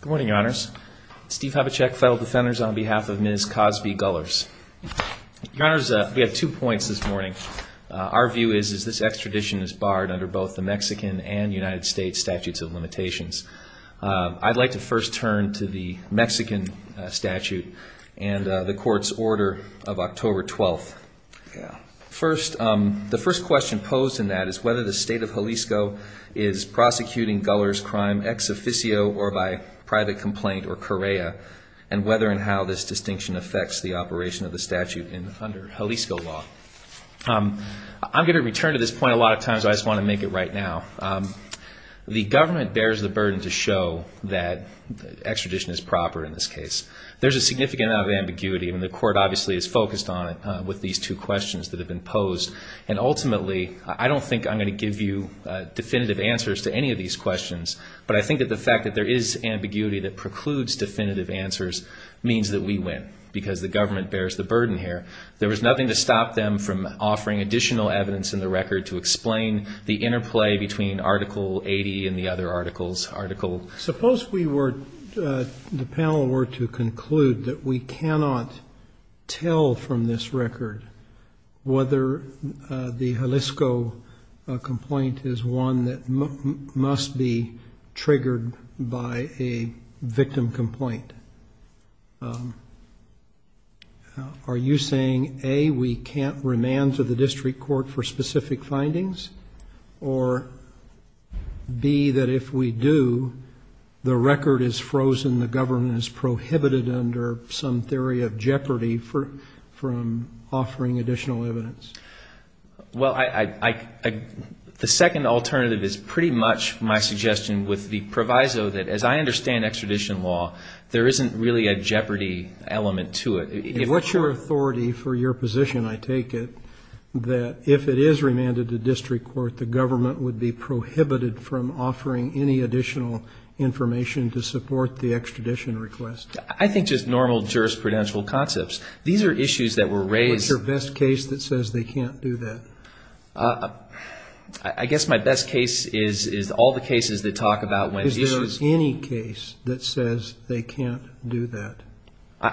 Good morning, Your Honors. Steve Habachek, Federal Defenders, on behalf of Ms. Cosby Gullers. Your Honors, we have two points this morning. Our view is that this extradition is barred under both the Mexican and United States Statutes of Limitations. I'd like to first turn to the Mexican statute and the Court's order of October 12th. The first question posed in that is whether the State of Jalisco is prosecuting Gullers' crime ex officio or by private complaint or Correa, and whether and how this distinction affects the operation of the statute under Jalisco law. I'm going to return to this point a lot of times, but I just want to make it right now. The government bears the burden to show that extradition is proper in this case. There's a significant amount of ambiguity, and the Court obviously is focused on it with these two questions that have been posed. And ultimately, I don't think I'm going to give you definitive answers to any of these questions, but I think that the fact that there is ambiguity that precludes definitive answers means that we win because the government bears the burden here. There was nothing to stop them from offering additional evidence in the record to explain the interplay between Article 80 and the other articles. Suppose the panel were to conclude that we cannot tell from this record whether the Jalisco complaint is one that must be triggered by a victim complaint. Are you saying, A, we can't remand to the district court for specific findings, or B, that if we do, the record is frozen, the government is prohibited under some theory of jeopardy from offering additional evidence? Well, the second alternative is pretty much my suggestion with the proviso that, as I understand extradition law, there isn't really a jeopardy element to it. And what's your authority for your position, I take it, that if it is remanded to district court, the government would be prohibited from offering any additional information to support the extradition request? I think just normal jurisprudential concepts. These are issues that were raised... I guess my best case is all the cases that talk about when issues...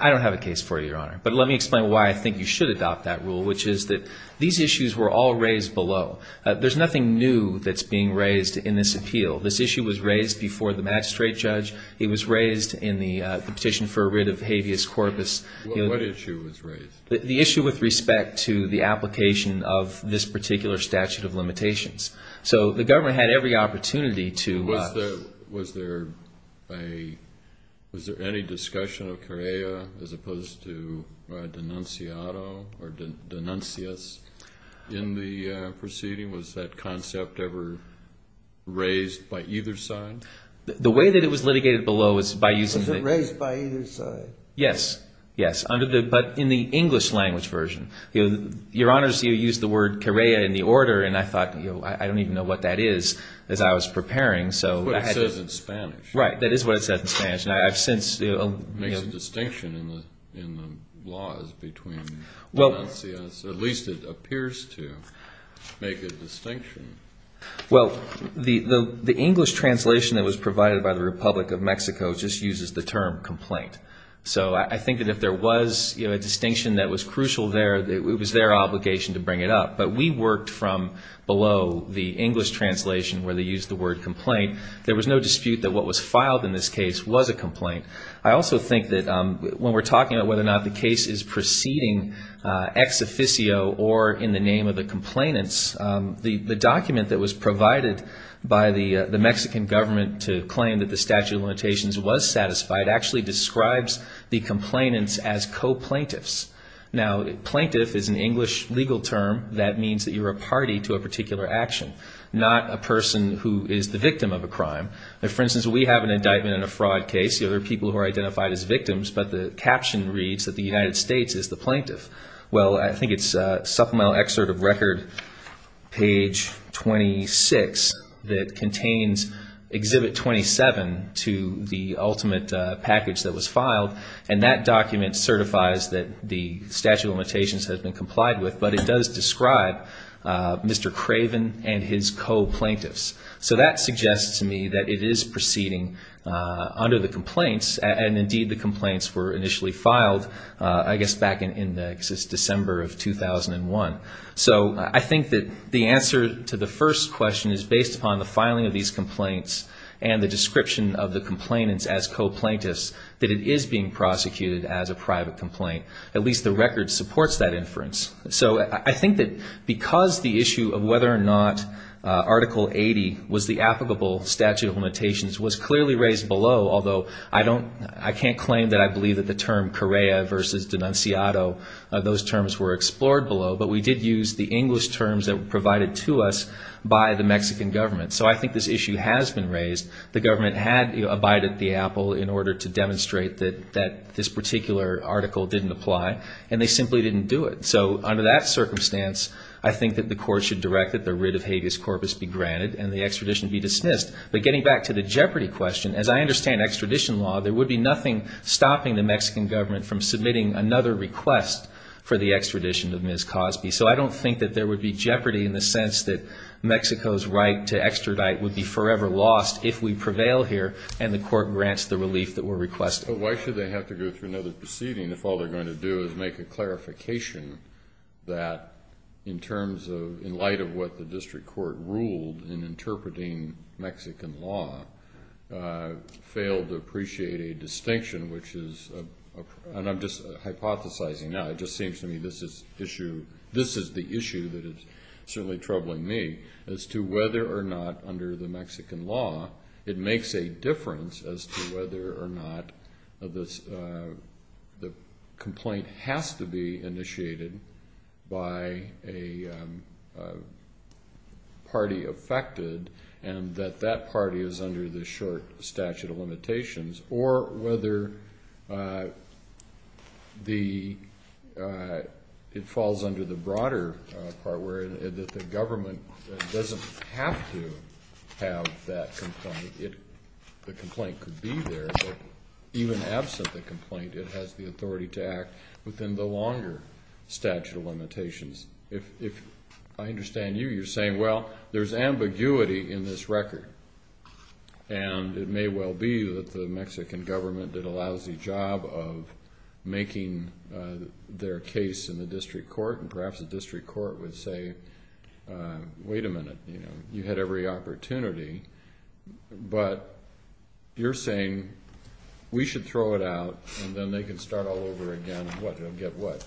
I don't have a case for you, Your Honor. But let me explain why I think you should adopt that rule, which is that these issues were all raised below. There's nothing new that's being raised in this appeal. This issue was raised before the magistrate judge. It was raised in the petition for a writ of habeas corpus. What issue was raised? The issue with respect to the application of this particular statute of limitations. So the government had every opportunity to... Was there any discussion of Correa as opposed to denunciato or denuncius in the proceeding? Was that concept ever raised by either side? The way that it was litigated below was by using... It was litigated in the English language version. Your Honor, you used the word Correa in the order, and I thought, I don't even know what that is, as I was preparing. That's what it says in Spanish. It makes a distinction in the laws between denuncias. At least it appears to make a distinction. Well, the English translation that was provided by the Republic of Mexico just uses the term complaint. So I think that if there was a distinction that was crucial there, it was their obligation to bring it up. But we worked from below the English translation, where they used the word complaint. There was no dispute that what was filed in this case was a complaint. I also think that when we're talking about whether or not the case is proceeding ex officio or in the name of the complainants, the document that was provided by the Mexican government to claim that the statute of limitations was satisfied actually describes the complainants as co-plaintiffs. Now, plaintiff is an English legal term that means that you're a party to a particular action, not a person who is the victim of a crime. For instance, we have an indictment in a fraud case. There are people who are identified as victims, but the caption reads that the United States is the plaintiff. Well, I think it's Supplemental Excerpt of Record, page 26, that contains exhibit 27 to the ultimate package that was filed. And that document certifies that the statute of limitations has been complied with, but it does describe Mr. Craven and his co-plaintiffs. So that suggests to me that it is proceeding under the complaints, and indeed the complaints were initially filed, I guess, back in December of 2001. So I think that the answer to the first question is based upon the filing of these complaints and the description of the complainants as co-plaintiffs that it is being prosecuted as a private complaint. At least the record supports that inference. I think that the question of whether the statute of limitations was clearly raised below, although I can't claim that I believe that the term Correa versus Denunciado, those terms were explored below, but we did use the English terms that were provided to us by the Mexican government. So I think this issue has been raised. The government had abided the apple in order to demonstrate that this particular article didn't apply, and they simply didn't do it. So under that circumstance, I think that the court should direct that the writ of habeas corpus be granted and the extradition be dismissed. But getting back to the jeopardy question, as I understand extradition law, there would be nothing stopping the Mexican government from submitting another request for the extradition of Ms. Cosby. So I don't think that there would be jeopardy in the sense that Mexico's right to extradite would be forever lost if we prevail here and the court grants the relief that we're requesting. So why should they have to go through another proceeding if all they're going to do is make a clarification that, in terms of, in light of what the district court ruled in interpreting Mexican law, failed to appreciate a distinction, which is, and I'm just hypothesizing now, it just seems to me this is the issue that is certainly troubling me, as to whether or not, under the Mexican law, it makes a difference as to whether or not the Mexican government is going to grant an extradition. Whether the complaint has to be initiated by a party affected and that that party is under the short statute of limitations, or whether it falls under the broader part where the government doesn't have to have that complaint. The complaint could be there, but even absent the complaint, it has the authority to act within the longer statute of limitations. If I understand you, you're saying, well, there's ambiguity in this record. And it may well be that the Mexican government did a lousy job of making their case in the district court, and perhaps the district court would say, wait a minute, you know, you had every opportunity. But you're saying we should throw it out and then they can start all over again, and guess what,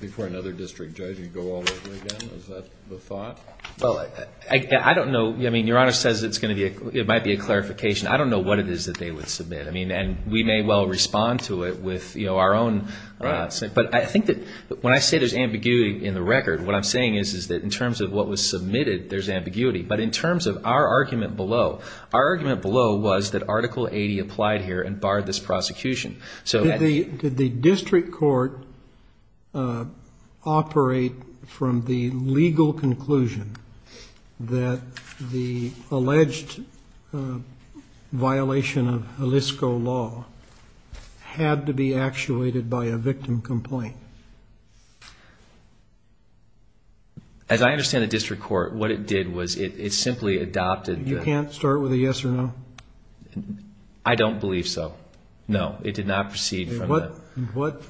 before another district judge, you go all over again, is that the thought? Well, I don't know. I mean, Your Honor says it's going to be, it might be a clarification. I don't know what it is that they would submit. I mean, and we may well respond to it with, you know, our own, but I think that when I say there's ambiguity in the record, what I'm saying is, is that in terms of what was submitted, there's ambiguity. But in terms of our argument below, our argument below was that Article 80 applied here and barred this prosecution. Did the district court operate from the legal conclusion that the alleged violation of Jalisco law had to be actuated by a victim complaint? As I understand the district court, what it did was it simply adopted the... You can't start with a yes or no? I don't believe so. No, it did not proceed from that. What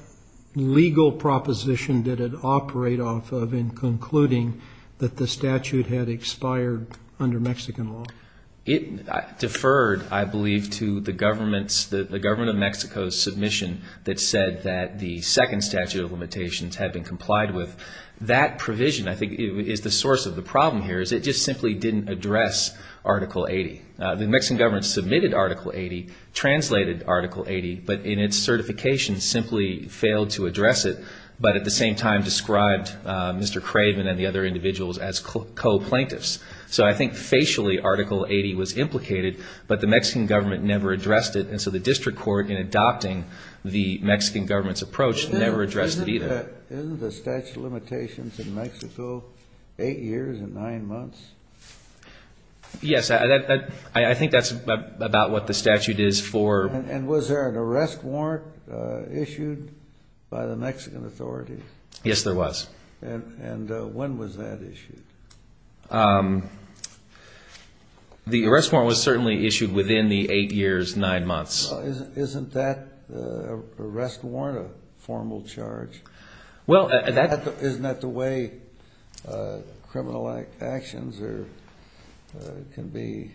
legal proposition did it operate off of in concluding that the statute had expired under Mexican law? It deferred, I believe, to the government of Mexico's submission that said that the second statute of limitations had been complied with. That provision, I think, is the source of the problem here, is it just simply didn't address Article 80. The Mexican government submitted Article 80, translated Article 80, but in its certification simply failed to address it, but at the same time described Mr. Craven and the other individuals as co-plaintiffs. So I think facially Article 80 was implicated, but the Mexican government never addressed it, and so the district court, in adopting the Mexican government's approach, never addressed it either. Isn't the statute of limitations in Mexico eight years and nine months? Yes, I think that's about what the statute is for... And was there an arrest warrant issued by the Mexican authorities? Yes, there was. And when was that issued? The arrest warrant was certainly issued within the eight years, nine months. Isn't that arrest warrant a formal charge? Isn't that the way criminal actions can be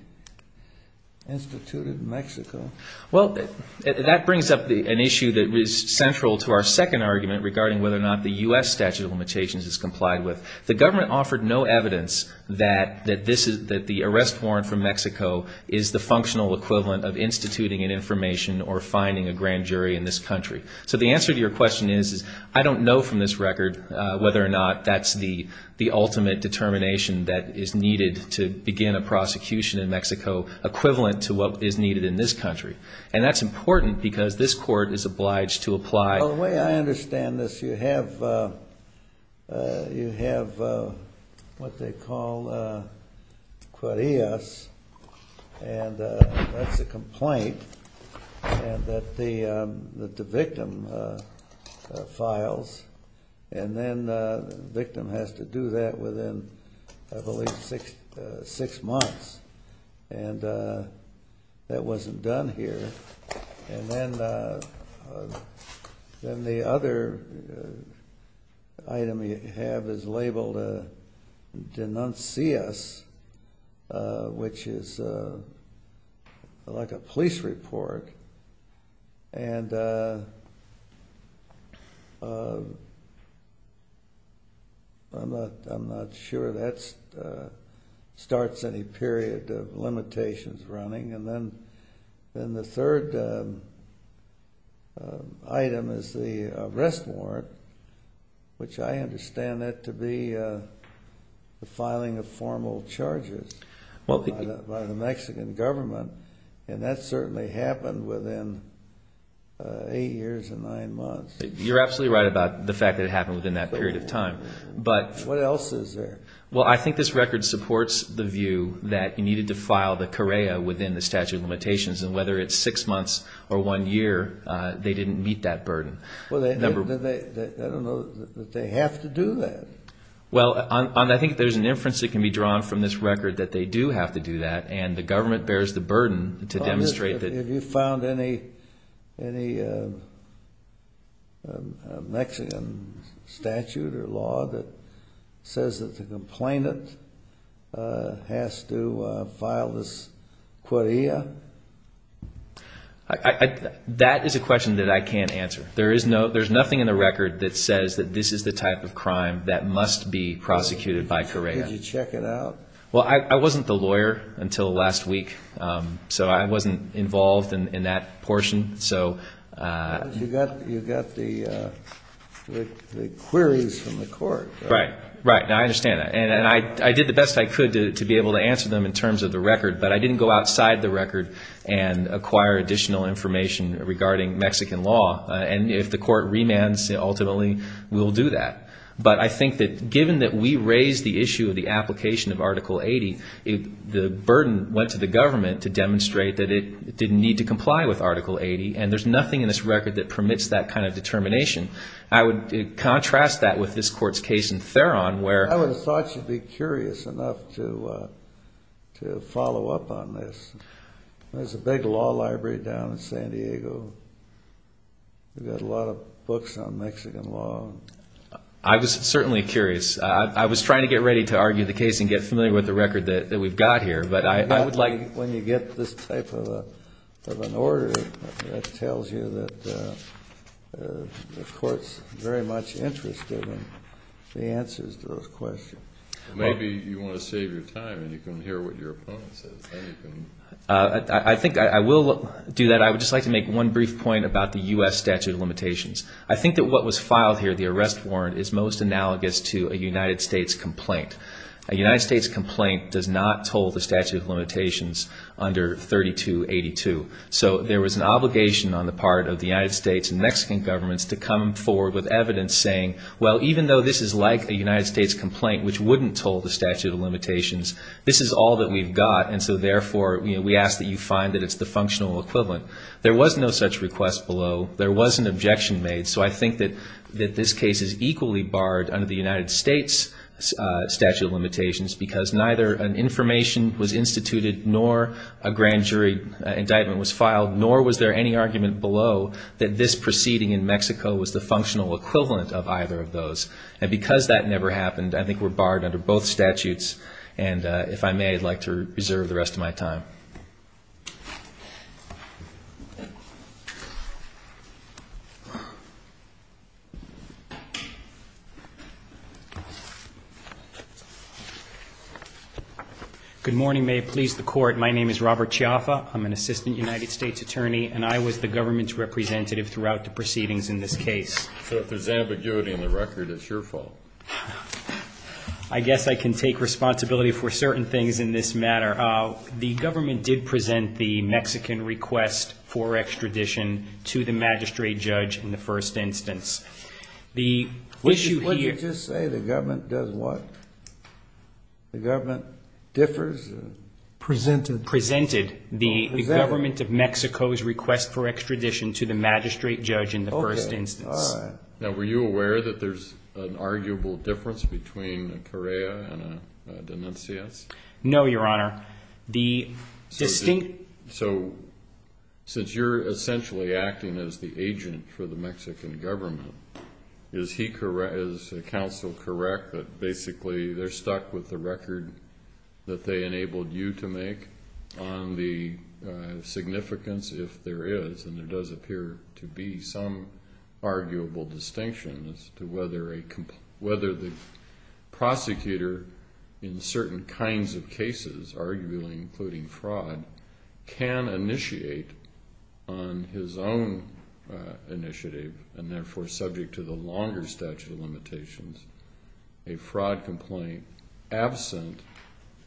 instituted in Mexico? Well, that brings up an issue that is central to our second argument regarding whether or not the U.S. statute of limitations is complied with. The government offered no evidence that the arrest warrant from Mexico is the functional equivalent of instituting an information or finding a grand jury in this country. So the answer to your question is I don't know from this record whether or not that's the ultimate determination that is needed to begin a prosecution in Mexico equivalent to what is needed in this country. And that's important because this court is obliged to apply... files, and then the victim has to do that within, I believe, six months. And that wasn't done here. And then the other item you have is labeled denuncias, which is like a police report. And I'm not sure that starts any period of limitations running. And then the third item is the arrest warrant, which I understand that to be the filing of formal charges by the Mexican government. And that certainly happened within eight years and nine months. You're absolutely right about the fact that it happened within that period of time. What else is there? Well, I think this record supports the view that you needed to file the carrera within the statute of limitations. And whether it's six months or one year, they didn't meet that burden. I don't know that they have to do that. Well, I think there's an inference that can be drawn from this record that they do have to do that. And the government bears the burden to demonstrate that... Have you found any Mexican statute or law that says that the complainant has to file this carrera? That is a question that I can't answer. There's nothing in the record that says that this is the type of crime that must be prosecuted by carrera. Did you check it out? Well, I wasn't the lawyer until last week. So I wasn't involved in that portion. You got the queries from the court. Right, right. Now, I understand that. And I did the best I could to be able to answer them in terms of the record. But I didn't go outside the record and acquire additional information regarding Mexican law. And if the court remands, ultimately we'll do that. But I think that given that we raised the issue of the application of Article 80, the burden went to the government to demonstrate that it didn't need to comply with Article 80. And there's nothing in this record that permits that kind of determination. I would contrast that with this court's case in Theron where... There's a big law library down in San Diego. We've got a lot of books on Mexican law. I was certainly curious. I was trying to get ready to argue the case and get familiar with the record that we've got here. But I would like... When you get this type of an order, it tells you that the court's very much interested in the answers to those questions. Maybe you want to save your time and you can hear what your opponent says. I think I will do that. I would just like to make one brief point about the U.S. statute of limitations. I think that what was filed here, the arrest warrant, is most analogous to a United States complaint. A United States complaint does not toll the statute of limitations under 3282. So there was an obligation on the part of the United States and Mexican governments to come forward with evidence saying, well, even though this is like a United States complaint, which wouldn't toll the statute of limitations, this is all that we've got, and so therefore we ask that you find that it's the functional equivalent. There was no such request below. There was an objection made. So I think that this case is equally barred under the United States statute of limitations because neither an information was instituted nor a grand jury indictment was filed, nor was there any argument below that this proceeding in Mexico was the functional equivalent of either of those. And because that never happened, I think we're barred under both statutes. And if I may, I'd like to reserve the rest of my time. Good morning. May it please the Court. My name is Robert Chiaffa. I'm an assistant United States attorney, and I was the government's representative throughout the proceedings in this case. So if there's ambiguity in the record, it's your fault. I guess I can take responsibility for certain things in this matter. The government did present the Mexican request for extradition to the magistrate judge in the first instance. Would you just say the government does what? The government differs? Presented. Presented the government of Mexico's request for extradition to the magistrate judge in the first instance. Okay. All right. Now, were you aware that there's an arguable difference between a Correa and a Denuncias? No, Your Honor. The distinct ---- So since you're essentially acting as the agent for the Mexican government, is the counsel correct that basically they're stuck with the record that they enabled you to make on the significance, if there is, and there does appear to be some arguable distinction as to whether the prosecutor, in certain kinds of cases, arguably including fraud, can initiate on his own initiative and, therefore, subject to the longer statute of limitations, a fraud complaint, absent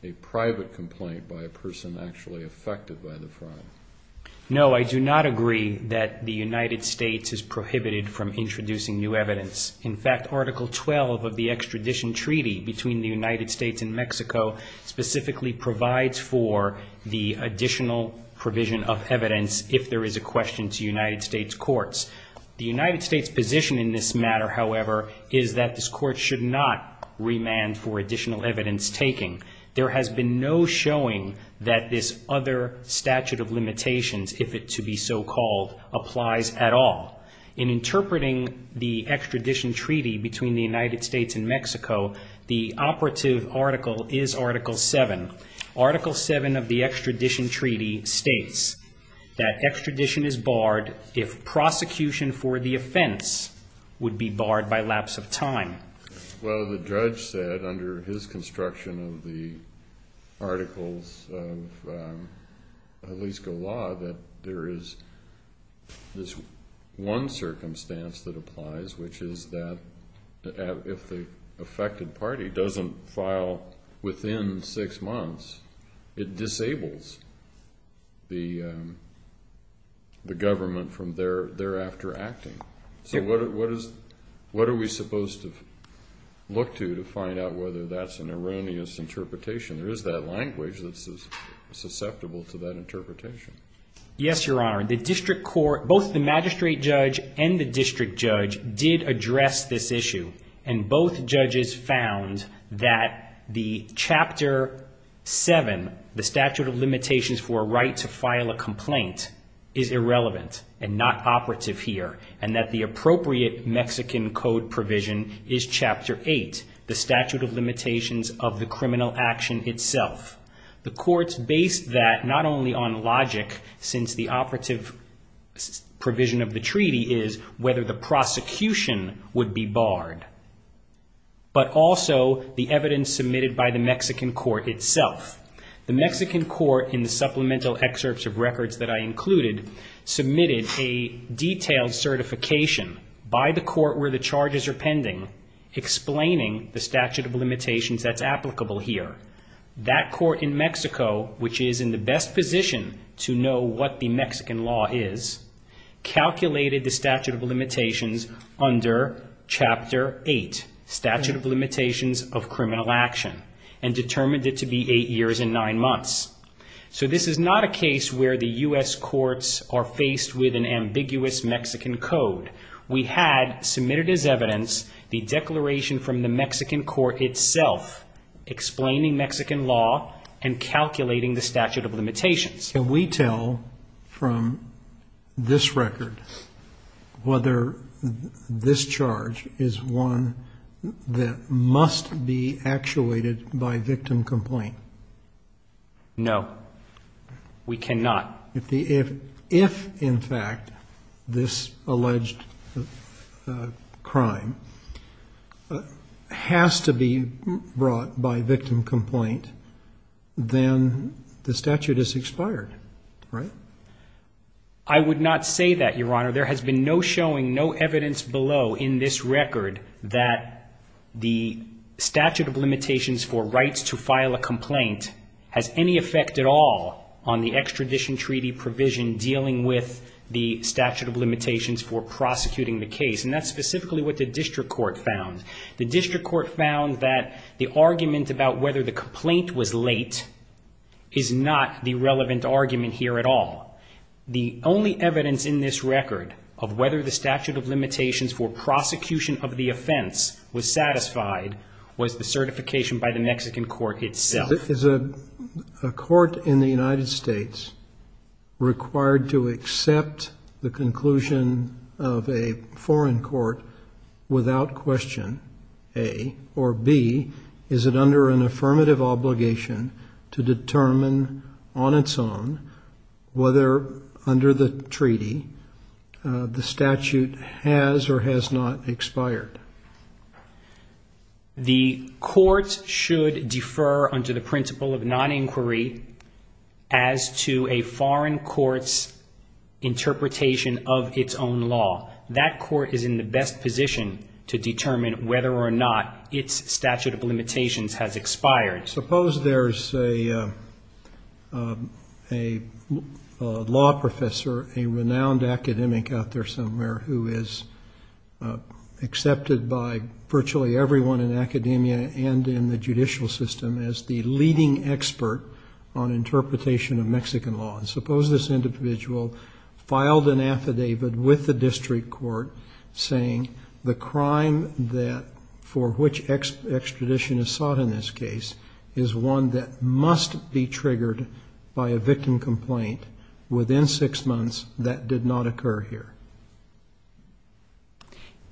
a private complaint by a person actually affected by the fraud? No, I do not agree that the United States is prohibited from introducing new evidence. In fact, Article 12 of the extradition treaty between the United States and Mexico specifically provides for the additional provision of evidence if there is a question to United States courts. The United States position in this matter, however, is that this court should not remand for additional evidence taking. There has been no showing that this other statute of limitations, if it to be so called, applies at all. In interpreting the extradition treaty between the United States and Mexico, the operative article is Article 7. Article 7 of the extradition treaty states that extradition is barred if prosecution for the offense would be barred by lapse of time. Well, the judge said, under his construction of the articles of Jalisco law, that there is this one circumstance that applies, which is that if the affected party doesn't file within six months, it disables the government from thereafter acting. So what are we supposed to look to to find out whether that's an erroneous interpretation? There is that language that's susceptible to that interpretation. Yes, Your Honor. Both the magistrate judge and the district judge did address this issue, and both judges found that the Chapter 7, the statute of limitations for a right to file a complaint, is irrelevant and not operative here, and that the appropriate Mexican code provision is Chapter 8, the statute of limitations of the criminal action itself. The courts based that not only on logic, since the operative provision of the treaty is whether the prosecution would be barred, but also the evidence submitted by the Mexican court itself. The Mexican court, in the supplemental excerpts of records that I included, submitted a detailed certification by the court where the charges are pending, explaining the statute of limitations that's applicable here. That court in Mexico, which is in the best position to know what the Mexican law is, calculated the statute of limitations under Chapter 8, statute of limitations of criminal action, and determined it to be eight years and nine months. So this is not a case where the U.S. courts are faced with an ambiguous Mexican code. We had submitted as evidence the declaration from the Mexican court itself, explaining Mexican law and calculating the statute of limitations. Can we tell from this record whether this charge is one that must be actuated by victim complaint? No. We cannot. If, in fact, this alleged crime has to be brought by victim complaint, then the statute is expired, right? I would not say that, Your Honor. There has been no showing, no evidence below in this record that the statute of limitations for rights to file a complaint has any effect at all on the extradition treaty provision dealing with the statute of limitations for prosecuting the case. And that's specifically what the district court found. The district court found that the argument about whether the complaint was late is not the relevant argument here at all. The only evidence in this record of whether the statute of limitations for prosecution of the offense was satisfied was the certification by the Mexican court itself. Is a court in the United States required to accept the conclusion of a foreign court without question, A, or, B, is it under an affirmative obligation to determine on its own whether under the treaty the statute has or has not expired? The court should defer under the principle of non-inquiry as to a foreign court's interpretation of its own law. That court is in the best position to determine whether or not its statute of limitations has expired. Suppose there's a law professor, a renowned academic out there somewhere, who is accepted by virtually everyone in academia and in the judicial system as the leading expert on interpretation of Mexican law. Suppose this individual filed an affidavit with the district court saying the crime for which extradition is sought in this case is one that must be triggered by a victim complaint within six months that did not occur here.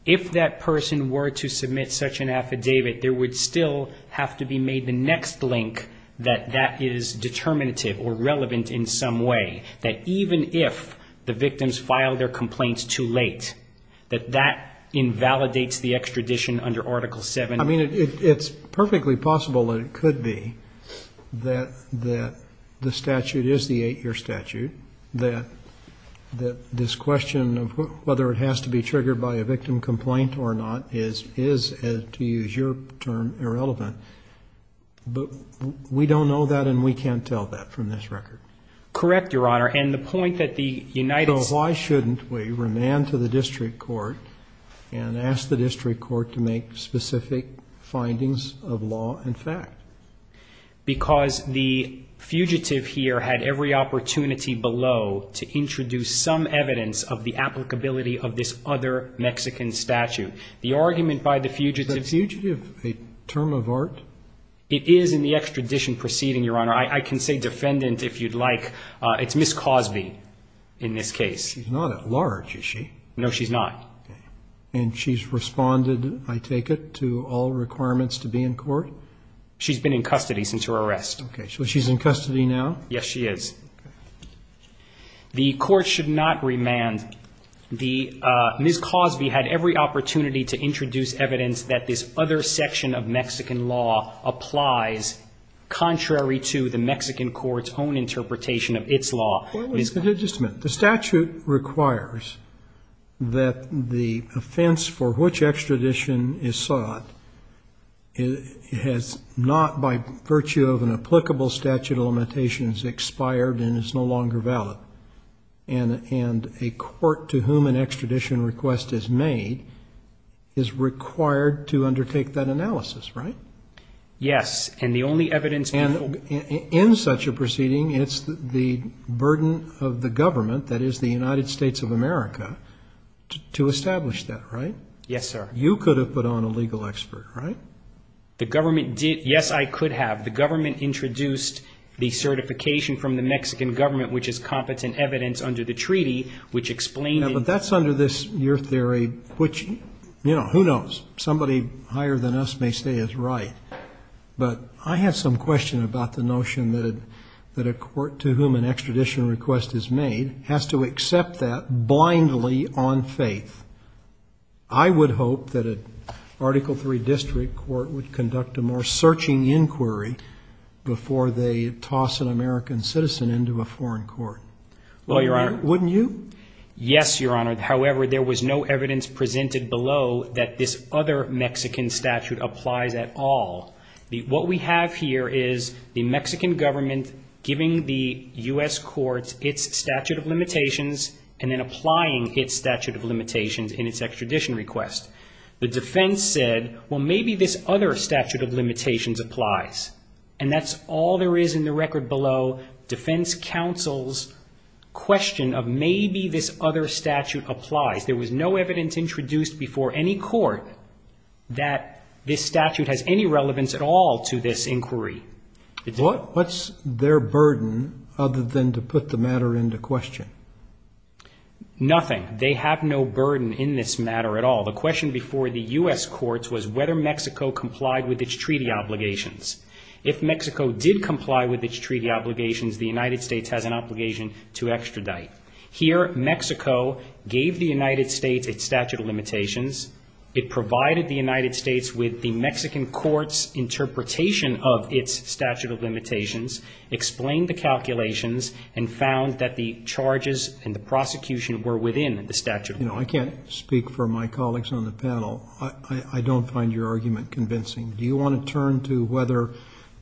If that person were to submit such an affidavit, there would still have to be made the next link that that is determinative or relevant in some way, that even if the victims filed their complaints too late, that that invalidates the extradition under Article VII. I mean, it's perfectly possible that it could be that the statute is the eight-year statute, that this question of whether it has to be triggered by a victim complaint or not is, to use your term, irrelevant. But we don't know that and we can't tell that from this record. Correct, Your Honor. And the point that the United States- So why shouldn't we remand to the district court and ask the district court to make specific findings of law and fact? Because the fugitive here had every opportunity below to introduce some evidence of the applicability of this other Mexican statute. The argument by the fugitive- Is the fugitive a term of art? It is in the extradition proceeding, Your Honor. I can say defendant if you'd like. It's Ms. Cosby in this case. She's not at large, is she? No, she's not. Okay. And she's responded, I take it, to all requirements to be in court? She's been in custody since her arrest. Okay. So she's in custody now? Yes, she is. Okay. The court should not remand. Ms. Cosby had every opportunity to introduce evidence that this other section of Mexican law applies, contrary to the Mexican court's own interpretation of its law. Just a minute. The statute requires that the offense for which extradition is sought has not, by virtue of an applicable statute of limitations, expired and is no longer valid. And a court to whom an extradition request is made is required to undertake that analysis, right? Yes. And the only evidence- In such a proceeding, it's the burden of the government, that is the United States of America, to establish that, right? Yes, sir. You could have put on a legal expert, right? The government did. Yes, I could have. The government introduced the certification from the Mexican government, which is competent evidence under the treaty, which explained- Yeah, but that's under this, your theory, which, you know, who knows? Somebody higher than us may say is right. But I have some question about the notion that a court to whom an extradition request is made has to accept that blindly on faith. I would hope that an Article III district court would conduct a more searching inquiry before they toss an American citizen into a foreign court. Well, your Honor- Wouldn't you? Yes, your Honor. However, there was no evidence presented below that this other Mexican statute applies at all. What we have here is the Mexican government giving the U.S. courts its statute of limitations and then applying its statute of limitations in its extradition request. The defense said, well, maybe this other statute of limitations applies. And that's all there is in the record below defense counsel's question of maybe this other statute applies. There was no evidence introduced before any court that this statute has any relevance at all to this inquiry. What's their burden other than to put the matter into question? Nothing. They have no burden in this matter at all. The question before the U.S. courts was whether Mexico complied with its treaty obligations. If Mexico did comply with its treaty obligations, the United States has an obligation to extradite. Here, Mexico gave the United States its statute of limitations. It provided the United States with the Mexican court's interpretation of its statute of limitations, explained the calculations, and found that the charges and the prosecution were within the statute. I can't speak for my colleagues on the panel. I don't find your argument convincing. Do you want to turn to whether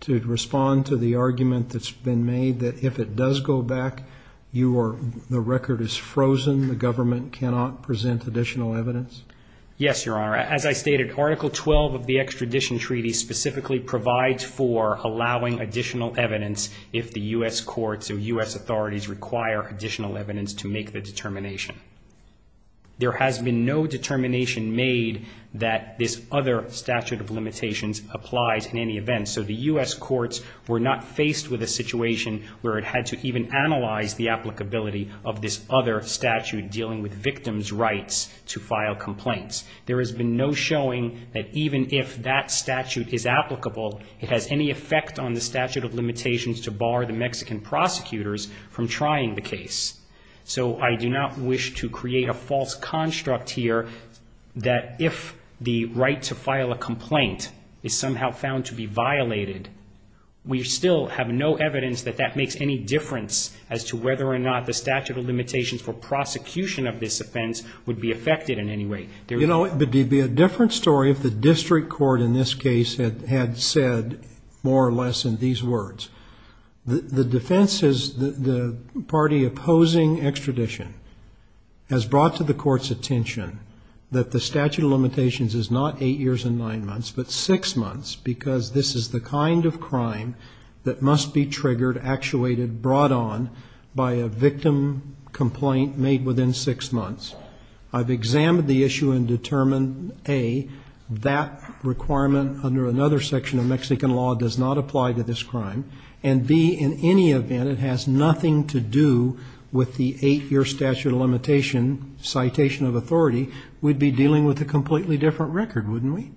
to respond to the argument that's been made that if it does go back, the record is frozen, the government cannot present additional evidence? Yes, Your Honor. As I stated, Article 12 of the extradition treaty specifically provides for allowing additional evidence if the U.S. courts or U.S. authorities require additional evidence to make the determination. There has been no determination made that this other statute of limitations applies in any event, so the U.S. courts were not faced with a situation where it had to even analyze the applicability of this other statute dealing with victims' rights to file complaints. There has been no showing that even if that statute is applicable, it has any effect on the statute of limitations to bar the Mexican prosecutors from trying the case. So I do not wish to create a false construct here that if the right to file a complaint is somehow found to be violated, we still have no evidence that that makes any difference as to whether or not the statute of limitations for prosecution of this offense would be affected in any way. You know, it would be a different story if the district court in this case had said more or less in these words. The defense is the party opposing extradition has brought to the court's attention that the statute of limitations is not eight years and nine months, but six months, because this is the kind of crime that must be triggered, actuated, brought on by a victim complaint made within six months. I've examined the issue and determined, A, that requirement under another section of Mexican law does not apply to this crime, and, B, in any event, it has nothing to do with the eight-year statute of limitation citation of authority. We'd be dealing with a completely different record, wouldn't we?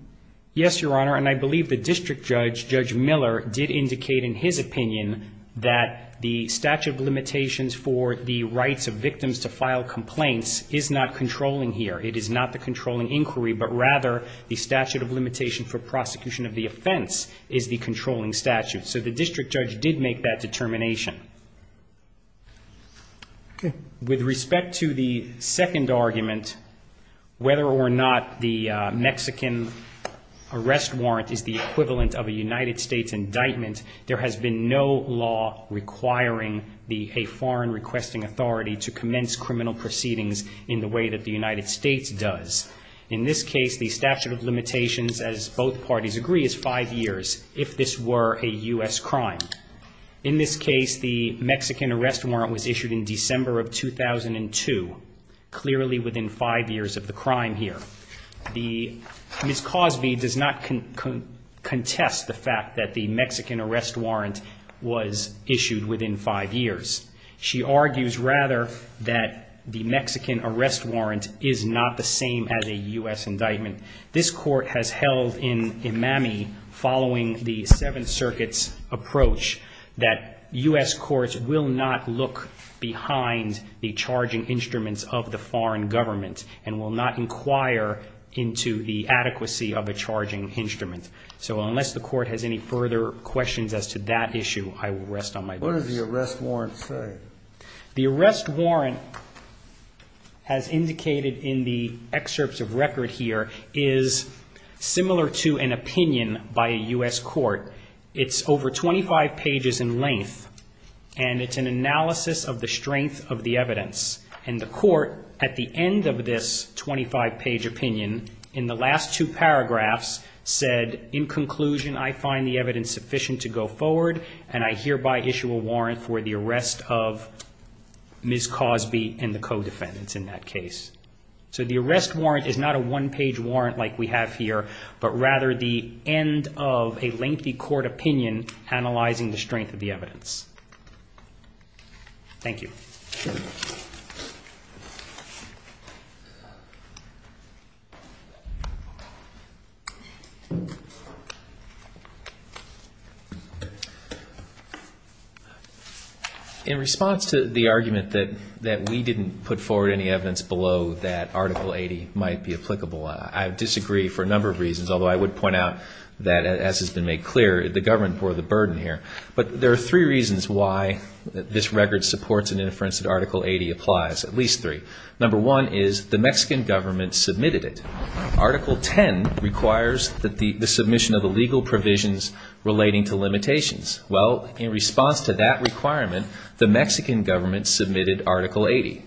Yes, Your Honor, and I believe the district judge, Judge Miller, did indicate in his opinion that the statute of limitations for the rights of victims to file complaints is not controlling here. It is not the controlling inquiry, but rather the statute of limitation for prosecution of the offense is the controlling statute. So the district judge did make that determination. With respect to the second argument, whether or not the Mexican arrest warrant is the equivalent of a United States indictment, there has been no law requiring a foreign requesting authority to commence criminal proceedings in the way that the United States does. In this case, the statute of limitations, as both parties agree, is five years, if this were a U.S. crime. In this case, the Mexican arrest warrant was issued in December of 2002, clearly within five years of the crime here. Ms. Cosby does not contest the fact that the Mexican arrest warrant was issued within five years. She argues, rather, that the Mexican arrest warrant is not the same as a U.S. indictment. This Court has held in Imami, following the Seventh Circuit's approach, that U.S. courts will not look behind the charging instruments of the foreign government and will not inquire into the adequacy of a charging instrument. So unless the Court has any further questions as to that issue, I will rest on my boots. What does the arrest warrant say? The arrest warrant, as indicated in the excerpts of record here, is similar to an opinion by a U.S. court. It's over 25 pages in length, and it's an analysis of the strength of the evidence. And the Court, at the end of this 25-page opinion, in the last two paragraphs, said, in conclusion, I find the evidence sufficient to go forward, and I hereby issue a warrant for the arrest of Ms. Cosby and the co-defendants in that case. So the arrest warrant is not a one-page warrant like we have here, but rather the end of a lengthy court opinion analyzing the strength of the evidence. Thank you. In response to the argument that we didn't put forward any evidence below that Article 80 might be applicable, I disagree for a number of reasons, although I would point out that, as has been made clear, the government bore the burden here. But there are three reasons why this record supports an inference that Article 80 applies, at least three. Number one is the Mexican government submitted it. Article 10 requires the submission of the legal provisions relating to limitations. Well, in response to that requirement, the Mexican government submitted Article 80.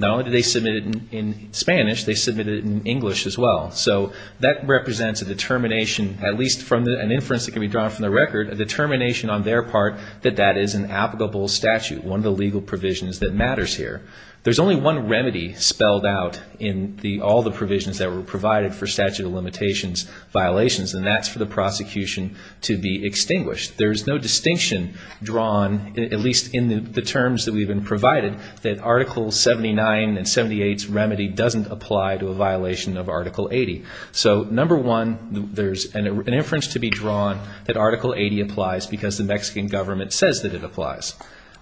Not only did they submit it in Spanish, they submitted it in English as well. So that represents a determination, at least from an inference that can be drawn from the record, a determination on their part that that is an applicable statute, one of the legal provisions that matters here. There's only one remedy spelled out in all the provisions that were provided for statute of limitations violations, and that's for the prosecution to be extinguished. There's no distinction drawn, at least in the terms that we've been provided, that Article 79 and 78's remedy doesn't apply to a violation of Article 80. So number one, there's an inference to be drawn that Article 80 applies because the Mexican government says that it applies.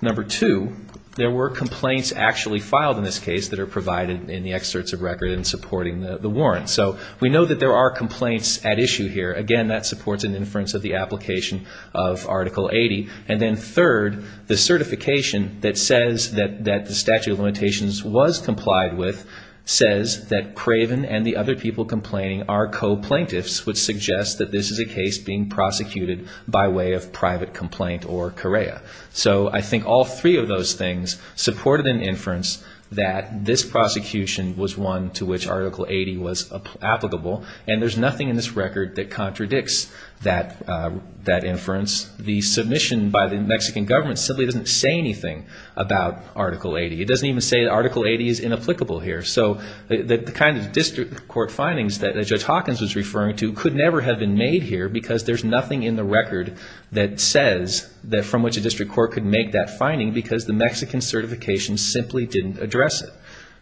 Number two, there were complaints actually filed in this case that are provided in the excerpts of record in supporting the warrant. So we know that there are complaints at issue here. Again, that supports an inference of the application of Article 80. And then third, the certification that says that the statute of limitations was complied with says that Craven and the other people complaining are co-plaintiffs, which suggests that this is a case being prosecuted by way of private complaint or Correa. So I think all three of those things supported an inference that this prosecution was one to which Article 80 was applicable. And there's nothing in this record that contradicts that inference. The submission by the Mexican government simply doesn't say anything about Article 80. It doesn't even say that Article 80 is inapplicable here. So the kind of district court findings that Judge Hawkins was referring to could never have been made here because there's nothing in the record that says that from which a district court could make that finding because the Mexican certification simply didn't address it.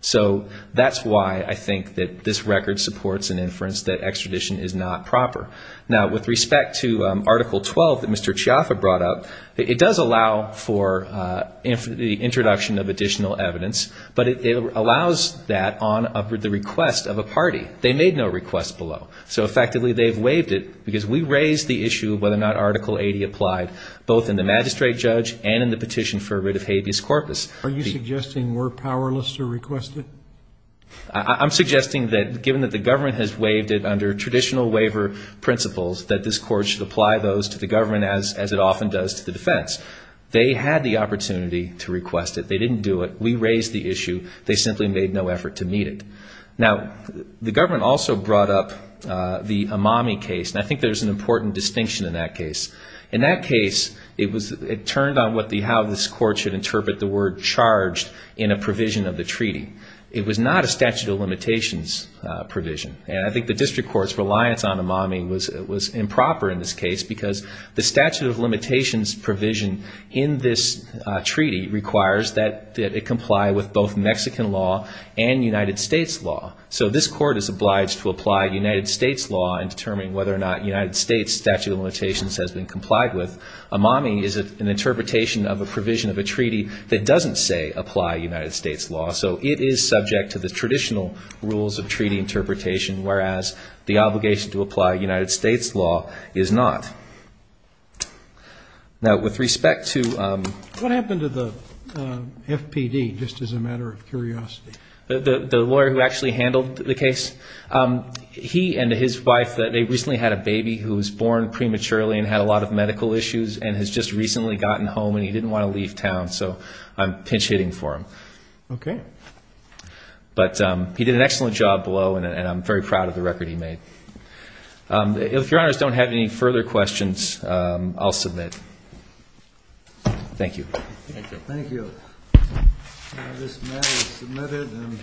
So that's why I think that this record supports an inference that extradition is not proper. Now, with respect to Article 12 that Mr. Chiaffa brought up, it does allow for the introduction of additional evidence, but it allows that on the request of a party. They made no request below. So effectively they've waived it because we raised the issue of whether or not Article 80 applied, both in the magistrate judge and in the petition for a writ of habeas corpus. Are you suggesting we're powerless to request it? I'm suggesting that given that the government has waived it under traditional waiver principles, that this court should apply those to the government as it often does to the defense. They had the opportunity to request it. They didn't do it. We raised the issue. They simply made no effort to meet it. Now, the government also brought up the Amami case, and I think there's an important distinction in that case. In that case, it turned on how this court should interpret the word charged in a provision of the treaty. It was not a statute of limitations provision, and I think the district court's reliance on Amami was improper in this case because the statute of limitations provision in this treaty requires that it comply with both Mexican law and United States law. So this court is obliged to apply United States law in determining whether or not has been complied with. Amami is an interpretation of a provision of a treaty that doesn't say apply United States law, so it is subject to the traditional rules of treaty interpretation, whereas the obligation to apply United States law is not. Now, with respect to the lawyer who actually handled the case, he and his wife, they recently had a baby who was born prematurely and had a lot of medical issues and has just recently gotten home, and he didn't want to leave town. So I'm pinch-hitting for him. Okay. But he did an excellent job below, and I'm very proud of the record he made. If Your Honors don't have any further questions, I'll submit. Thank you. Thank you. This matter is submitted.